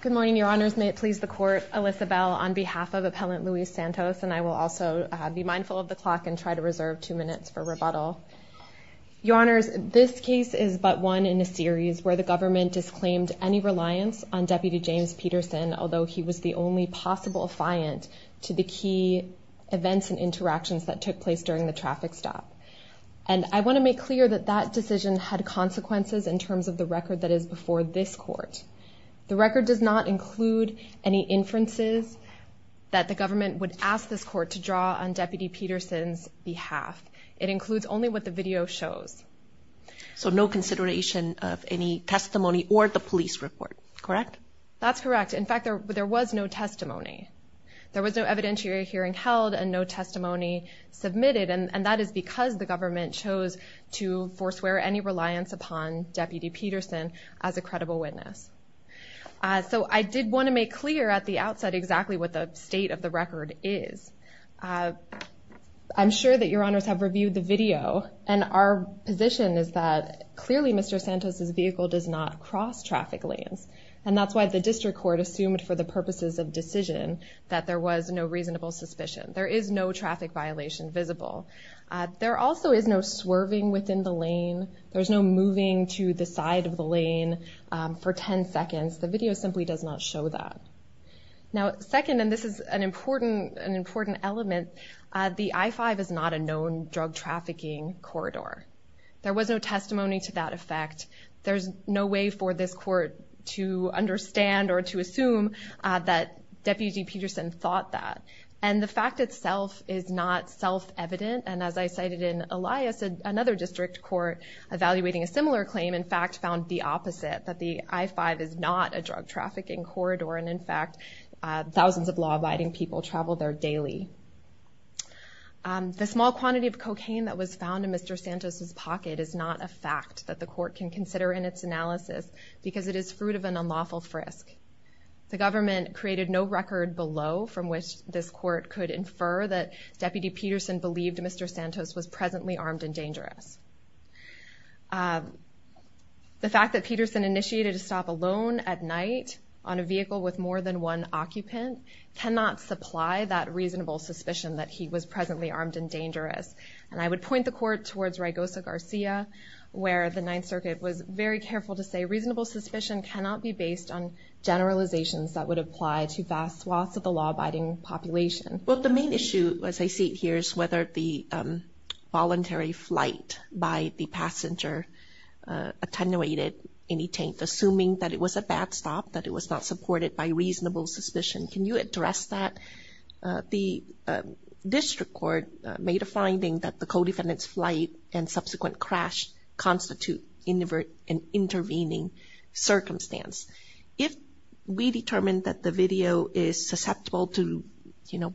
Good morning, your honors. May it please the court. Alyssa Bell on behalf of Appellant Luis Santos. And I will also be mindful of the clock and try to reserve two minutes for rebuttal. Your honors, this case is but one in a series where the government disclaimed any reliance on Deputy James Peterson, although he was the only possible affiant to the key events and interactions that took place during the traffic stop. And I want to make clear that that decision had consequences in terms of the record that is before this court. The record does not include any inferences that the government would ask this court to draw on Deputy Peterson's behalf. It includes only what the video shows. So no consideration of any testimony or the police report, correct? That's correct. In fact, there was no testimony. There was no evidentiary hearing held and no testimony submitted. And that is because the government chose to forswear any reliance upon Deputy Peterson as a credible witness. So I did want to make clear at the outset exactly what the state of the record is. I'm sure that your honors have reviewed the video. And our position is that clearly Mr. Santos's vehicle does not cross traffic lanes. And that's why the district court assumed for the purposes of decision that there was no reasonable suspicion. There is no traffic violation visible. There also is no swerving within the lane. There's no moving to the side of the lane for 10 seconds. The video simply does not show that. Now second, and this is an important element, the I-5 is not a known drug trafficking corridor. There was no testimony to that effect. There's no way for this court to understand or to assume that Deputy Peterson thought that. And the fact itself is not self-evident. And as I cited in Elias, another district court evaluating a similar claim, in fact, found the opposite, that the I-5 is not a drug trafficking corridor. And in fact, thousands of law-abiding people travel there daily. The small quantity of cocaine that was found in Mr. Santos's pocket is not a fact that the court can consider in its analysis because it is fruit of an unlawful frisk. The government created no record below from which this court could infer that Deputy Peterson believed Mr. Santos was presently armed and dangerous. The fact that Peterson initiated a stop alone at night on a vehicle with more than one occupant cannot supply that reasonable suspicion that he was presently armed and dangerous. And I would point the court towards Raygosa Garcia, where the Ninth Circuit was very careful to say reasonable suspicion cannot be based on generalizations that would apply to vast swaths of the law-abiding population. Well, the main issue, as I see it here, is whether the voluntary flight by the passenger attenuated any taint, assuming that it was a bad stop, that it was not supported by reasonable suspicion. Can you address that? The district court made a finding that the co-defendant's flight and subsequent crash constitute an intervening circumstance. If we determine that the video is susceptible to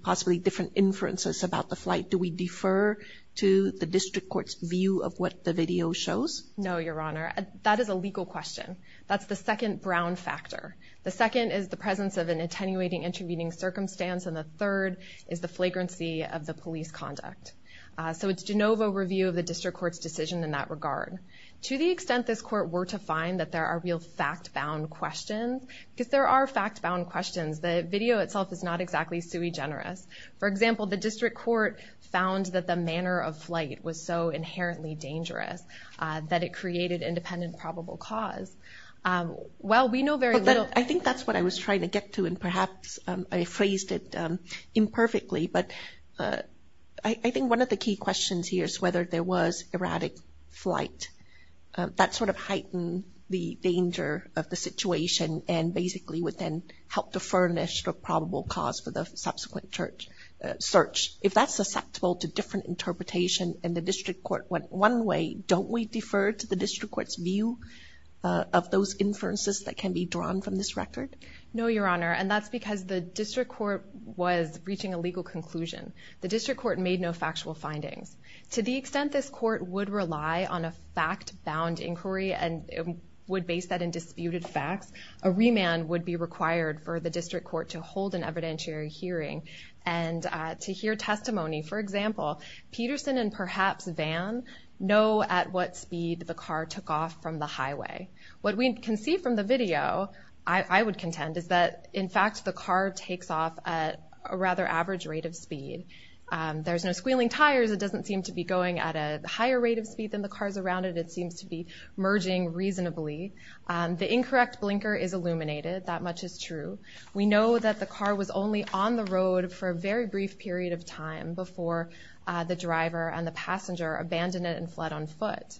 possibly different inferences about the flight, do we defer to the district court's view of what the video shows? No, Your Honor. That is a legal question. That's the second brown factor. The second is the presence of an attenuating intervening circumstance, and the third is the flagrancy of the police conduct. So it's de novo review of the district court's decision in that regard. To the extent this court were to find that there are real fact-bound questions, because there are fact-bound questions. The video itself is not exactly sui generis. For example, the district court found that the manner of flight was so inherently dangerous that it created independent probable cause. Well, we know very little. I think that's what I was trying to get to, and perhaps I phrased it imperfectly. But I think one of the key questions here is whether there was erratic flight. That sort of heightened the danger of the situation and basically would then help to furnish the probable cause for the subsequent search. If that's susceptible to different interpretation and the district court went one way, don't we defer to the district court's view of those inferences that can be drawn from this record? No, Your Honor, and that's because the district court was reaching a legal conclusion. The district court made no factual findings. To the extent this court would rely on a fact-bound inquiry and would base that in disputed facts, a remand would be required for the district court to hold an evidentiary hearing and to hear testimony. For example, Peterson and perhaps Vann know at what speed the car took off from the highway. What we can see from the video, I would contend, at a rather average rate of speed. There's no squealing tires. It doesn't seem to be going at a higher rate of speed than the cars around it. It seems to be merging reasonably. The incorrect blinker is illuminated. That much is true. We know that the car was only on the road for a very brief period of time before the driver and the passenger abandoned it and fled on foot.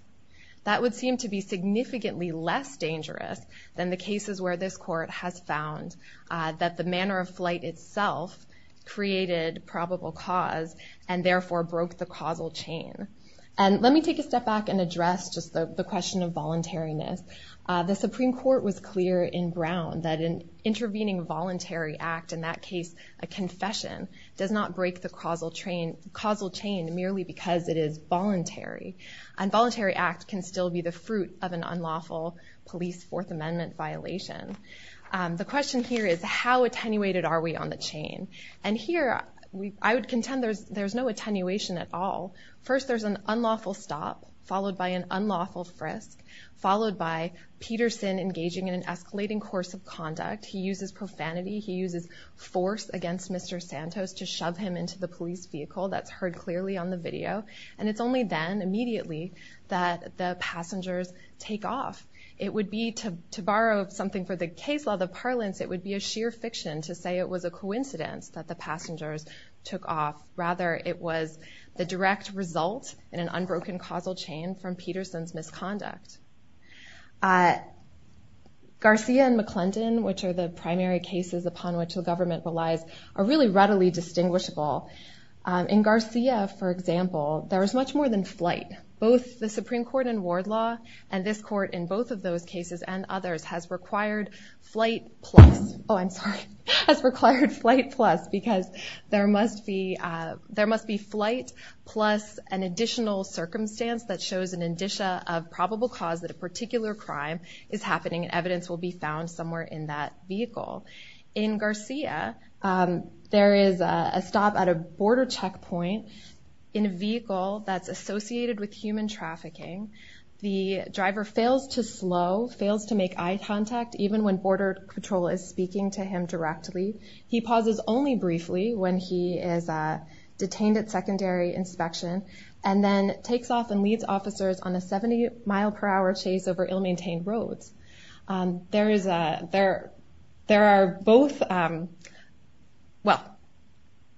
That would seem to be significantly less dangerous than the cases where this court has found that the manner of flight itself created probable cause and therefore broke the causal chain. And let me take a step back and address just the question of voluntariness. The Supreme Court was clear in Brown that an intervening voluntary act, in that case, a confession, does not break the causal chain merely because it is voluntary. And voluntary act can still be the fruit of an unlawful police Fourth Amendment violation. The question here is how attenuated are we on the chain? And here, I would contend there's no attenuation at all. First, there's an unlawful stop followed by an unlawful frisk, followed by Peterson engaging in an escalating course of conduct. He uses profanity. He uses force against Mr. Santos to shove him into the police vehicle. That's heard clearly on the video. And it's only then, immediately, that the passengers take off. It would be, to borrow something for the case law, the parlance, it would be a sheer fiction to say it was a coincidence that the passengers took off. Rather, it was the direct result in an unbroken causal chain from Peterson's misconduct. Garcia and McClendon, which are the primary cases upon which the government relies, are really readily distinguishable. In Garcia, for example, there is much more than flight. Both the Supreme Court in Ward Law and this court in both of those cases and others has required flight plus, oh, I'm sorry, has required flight plus because there must be flight plus an additional circumstance that shows an indicia of probable cause that a particular crime is happening and evidence will be found somewhere in that vehicle. In Garcia, there is a stop at a border checkpoint in a vehicle that's associated with human trafficking. The driver fails to slow, fails to make eye contact even when border patrol is speaking to him directly. He pauses only briefly when he is detained at secondary inspection and then takes off and leads officers on a 70 mile per hour chase over ill-maintained roads. There is a, there are both, well,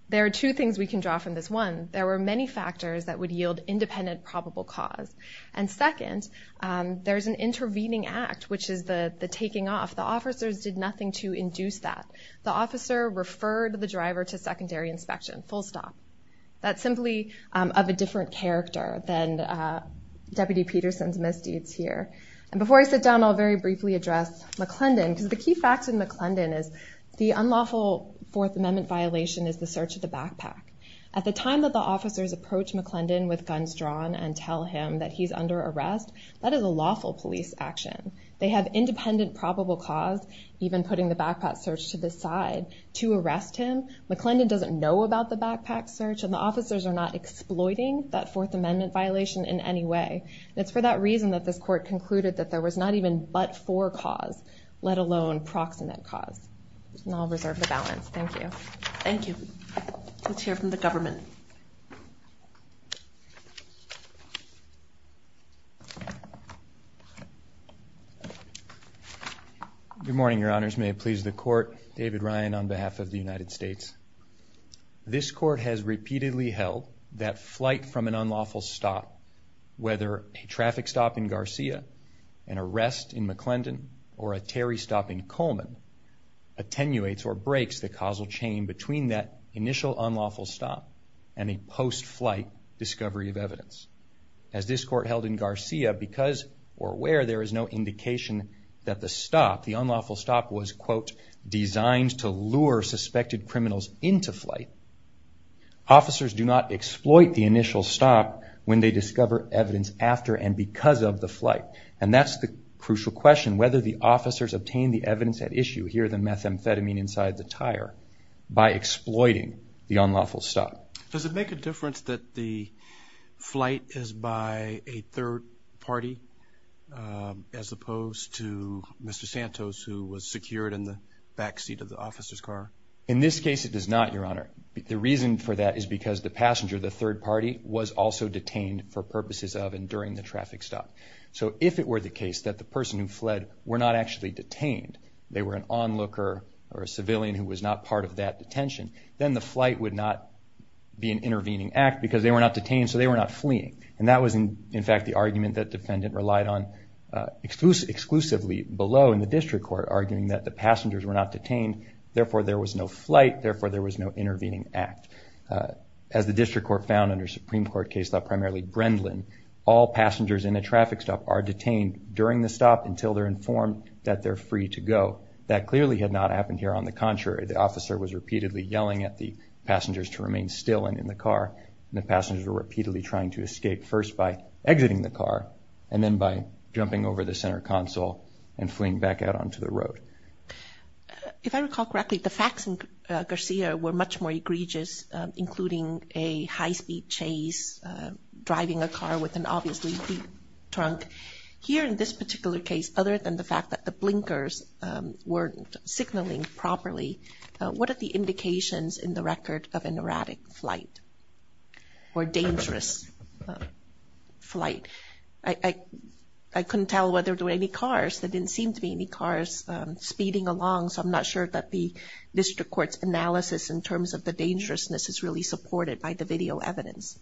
there are two things we can draw from this. One, there were many factors that would yield independent probable cause and second, there's an intervening act which is the taking off. The officers did nothing to induce that. The officer referred the driver to secondary inspection, full stop. That's simply of a different character than Deputy Peterson's misdeeds here and before I sit down, I'll very briefly address McClendon because the key fact in McClendon is the unlawful Fourth Amendment violation is the search of the backpack. At the time that the officers approached McClendon with guns drawn and tell him that he's under arrest, that is a lawful police action. They have independent probable cause, even putting the backpack search to the side to arrest him. McClendon doesn't know about the backpack search and the officers are not exploiting that Fourth Amendment violation in any way. It's for that reason that this court concluded that there was not even but for cause, let alone proximate cause. And I'll reserve the balance, thank you. Thank you. Let's hear from the government. David Ryan. Good morning, your honors. May it please the court. David Ryan on behalf of the United States. This court has repeatedly held that flight from an unlawful stop, whether a traffic stop in Garcia, an arrest in McClendon, or a Terry stop in Coleman, attenuates or breaks the causal chain between that initial unlawful stop and a post-flight discovery of evidence. As this court held in Garcia, because or where there is no indication that the stop, the unlawful stop, was quote, designed to lure suspected criminals into flight, officers do not exploit the initial stop when they discover evidence after and because of the flight. And that's the crucial question, whether the officers obtained the evidence at issue, here the methamphetamine inside the tire, by exploiting the unlawful stop. Does it make a difference that the flight is by a third party, as opposed to Mr. Santos, who was secured in the backseat of the officer's car? In this case, it does not, your honor. The reason for that is because the passenger, the third party, was also detained for purposes of and during the traffic stop. So if it were the case that the person who fled were not actually detained, they were an onlooker or a civilian who was not part of that detention, then the flight would not be an intervening act because they were not detained, so they were not fleeing. And that was, in fact, the argument that defendant relied on exclusively below in the district court, arguing that the passengers were not detained, therefore there was no flight, therefore there was no intervening act. As the district court found under Supreme Court case law, primarily Brendlin, all passengers in a traffic stop are detained during the stop until they're informed that they're free to go. That clearly had not happened here. On the contrary, the officer was repeatedly yelling at the passengers to remain still and in the car, and the passengers were repeatedly trying to escape, first by exiting the car, and then by jumping over the center console and fleeing back out onto the road. If I recall correctly, the facts in Garcia were much more egregious, including a high-speed chase, driving a car with an obviously beat trunk. Here in this particular case, other than the fact that the blinkers weren't signaling properly, what are the indications in the record of an erratic flight or dangerous flight? I couldn't tell whether there were any cars. There didn't seem to be any cars speeding along, so I'm not sure that the district court's analysis in terms of the dangerousness is really supported by the video evidence.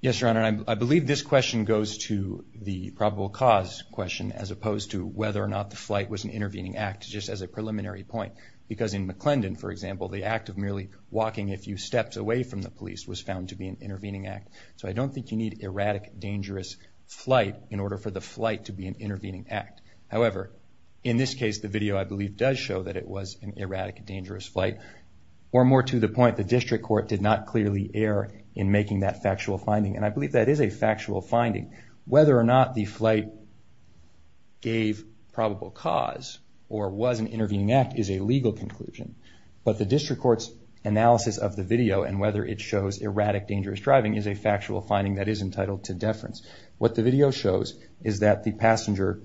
Yes, Your Honor, I believe this question goes to the probable cause question as opposed to whether or not the flight was an intervening act, just as a preliminary point, because in McClendon, for example, the act of merely walking a few steps away from the police was found to be an intervening act, so I don't think you need erratic, dangerous flight in order for the flight to be an intervening act. However, in this case, the video, I believe, does show that it was an erratic, dangerous flight, or more to the point, the district court did not clearly err in making that factual finding, and I believe that is a factual finding. Whether or not the flight gave probable cause or was an intervening act is a legal conclusion, but the district court's analysis of the video and whether it shows erratic, dangerous driving is a factual finding that is entitled to deference. What the video shows is that the passenger,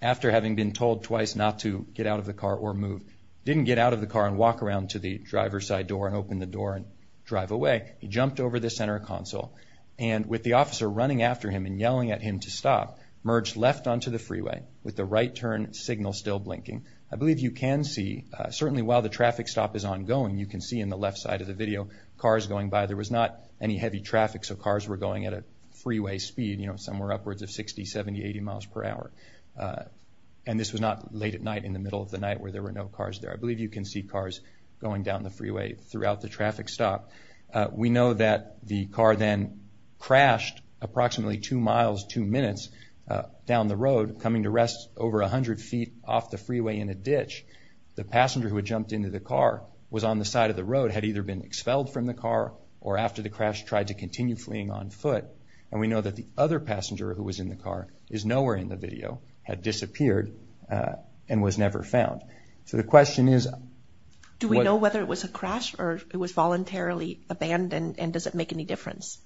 after having been told twice not to get out of the car or move, didn't get out of the car and walk around to the driver's side door and open the door and drive away. He jumped over the center console, and with the officer running after him and yelling at him to stop, merged left onto the freeway with the right turn signal still blinking. I believe you can see, certainly while the traffic stop is ongoing, you can see in the left side of the video, cars going by. There was not any heavy traffic, so cars were going at a freeway speed, you know, somewhere upwards of 60, 70, 80 miles per hour. And this was not late at night, in the middle of the night, where there were no cars there. I believe you can see cars going down the freeway throughout the traffic stop. We know that the car then crashed approximately two miles, two minutes down the road, coming to rest over 100 feet off the freeway in a ditch. The passenger who had jumped into the car was on the side of the road, had either been expelled from the car or after the crash tried to continue fleeing on foot. And we know that the other passenger who was in the car is nowhere in the video, had disappeared and was never found. So the question is... Do we know whether it was a crash or it was voluntarily abandoned and does it make any difference?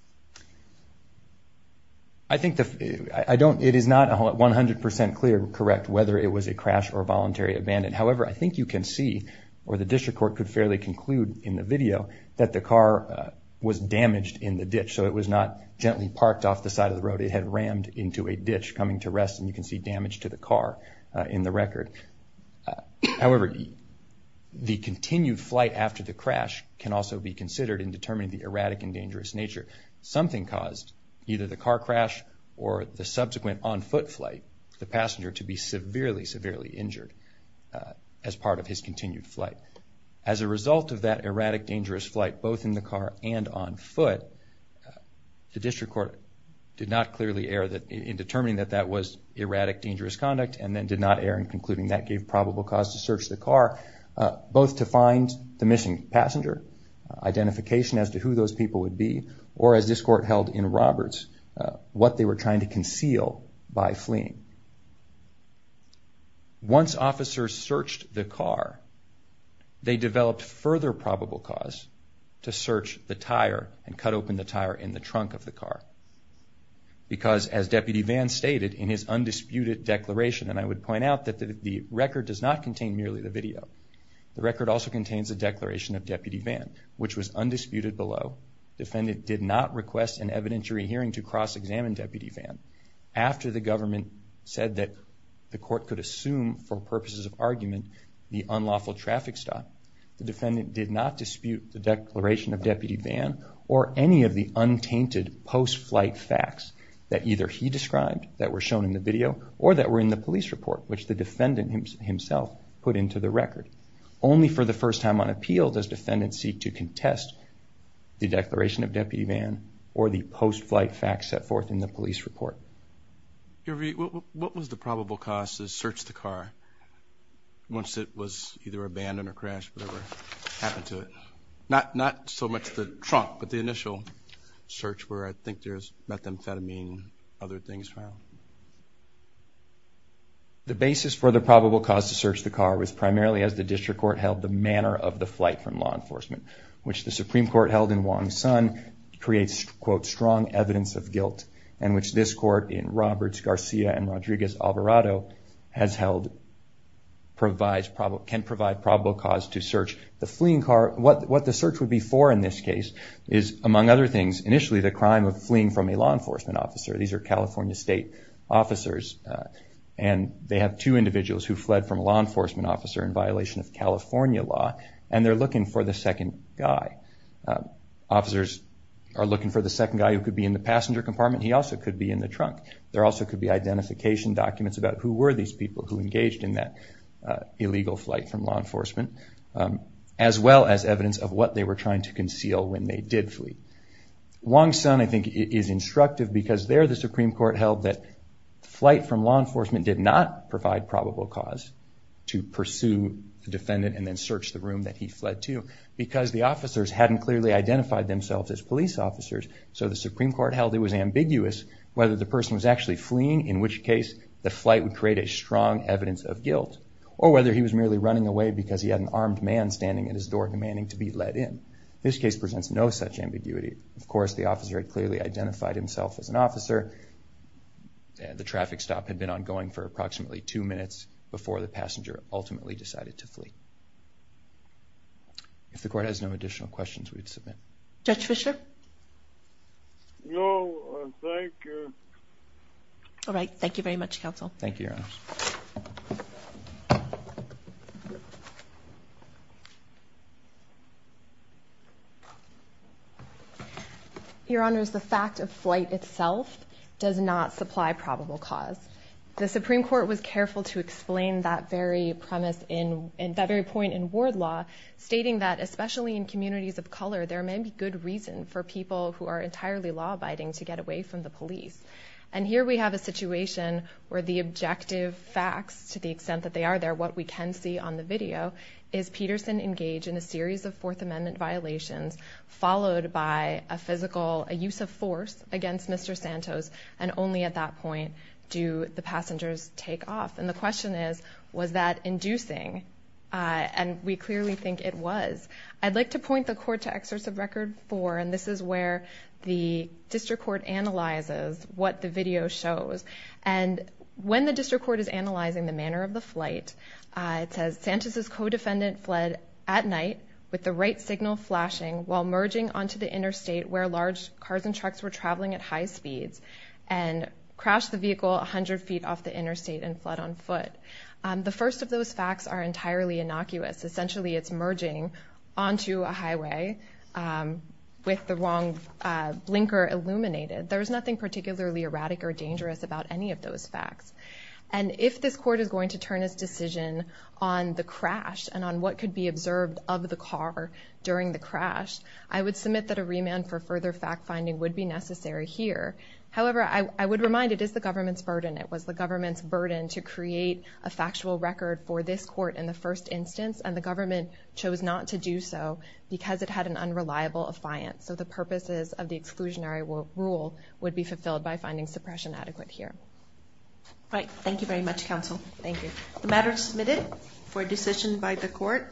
I think the... I don't... It is not 100% clear, correct, whether it was a crash or voluntary abandon. However, I think you can see, or the district court could fairly conclude in the video, that the car was damaged in the ditch. So it was not gently parked off the side of the road. It had rammed into a ditch coming to rest and you can see damage to the car in the record. However, the continued flight after the crash can also be considered in determining the erratic and dangerous nature. Something caused either the car crash or the subsequent on-foot flight, the passenger to be severely, severely injured as part of his continued flight. As a result of that erratic, dangerous flight, both in the car and on foot, the district court did not clearly err in determining that that was erratic, dangerous conduct and then did not err in concluding that gave probable cause to search the car, both to find the missing passenger, identification as to who those people would be, or as this court held in Roberts, what they were trying to conceal by fleeing. Once officers searched the car, they developed further probable cause to search the tire and cut open the tire in the trunk of the car. Because as Deputy Vann stated in his undisputed declaration, and I would point out that the record does not contain merely the video. The record also contains a declaration of Deputy Vann, which was undisputed below. Defendant did not request an evidentiary hearing to cross-examine Deputy Vann. After the government said that the court could assume for purposes of argument the unlawful traffic stop, the defendant did not dispute the declaration of Deputy Vann or any of the untainted post-flight facts that either he described, that were shown in the video, or that were in the police report, which the defendant himself put into the record. Only for the first time on appeal does defendant seek to contest the declaration of Deputy Vann or the post-flight facts set forth in the police report. Your Honor, what was the probable cause to search the car once it was either abandoned or crashed, whatever happened to it? Not so much the trunk, but the initial search where I think there's methamphetamine, other things found. The basis for the probable cause to search the car was primarily as the district court held the manner of the flight from law enforcement, which the Supreme Court held in Wong Son creates, quote, strong evidence of guilt, and which this court in Roberts, Garcia, and Rodriguez-Alvarado has held can provide probable cause to search the fleeing car. What the search would be for in this case is, among other things, initially, the crime of fleeing from a law enforcement officer. These are California state officers, and they have two individuals who fled from a law enforcement officer in violation of California law, and they're looking for the second guy. Officers are looking for the second guy who could be in the passenger compartment. He also could be in the trunk. There also could be identification documents about who were these people who engaged in that illegal flight from law enforcement, as well as evidence of what they were trying to conceal when they did flee. Wong Son, I think, is instructive because there the Supreme Court held that flight from law enforcement did not provide probable cause to pursue the defendant and then search the room that he fled to because the officers hadn't clearly identified themselves as police officers, so the Supreme Court held it was ambiguous whether the person was actually fleeing, in which case the flight would create a strong evidence of guilt, or whether he was merely running away because he had an armed man standing at his door demanding to be let in. This case presents no such ambiguity. Of course, the officer had clearly identified himself as an officer. The traffic stop had been ongoing for approximately two minutes before the passenger ultimately decided to flee. If the court has no additional questions, we'd submit. Judge Fischer? No, thank you. All right, thank you very much, counsel. Thank you, Your Honor. Thank you. Your Honors, the fact of flight itself does not supply probable cause. The Supreme Court was careful to explain that very premise in, that very point in ward law, stating that especially in communities of color, there may be good reason for people who are entirely law-abiding to get away from the police, and here we have a situation where the objective facts, to the extent that they are there, what we can see on the video, is Peterson engaged in a series of Fourth Amendment violations, followed by a physical, a use of force against Mr. Santos, and only at that point do the passengers take off. And the question is, was that inducing? And we clearly think it was. I'd like to point the court to Excerpts of Record 4, and this is where the district court analyzes what the video shows. And when the district court is analyzing the manner of the flight, it says, Santos's co-defendant fled at night with the right signal flashing while merging onto the interstate where large cars and trucks were traveling at high speeds, and crashed the vehicle 100 feet off the interstate and fled on foot. The first of those facts are entirely innocuous. Essentially, it's merging onto a highway with the wrong blinker illuminated. There's nothing particularly erratic or dangerous about any of those facts. And if this court is going to turn its decision on the crash and on what could be observed of the car during the crash, I would submit that a remand for further fact-finding would be necessary here. However, I would remind it is the government's burden. It was the government's burden to create a factual record for this court in the first instance, and the government chose not to do so because it had an unreliable affiance. So the purposes of the exclusionary rule would be fulfilled by finding suppression adequate here. All right, thank you very much, counsel. Thank you. The matter is submitted for decision by the court.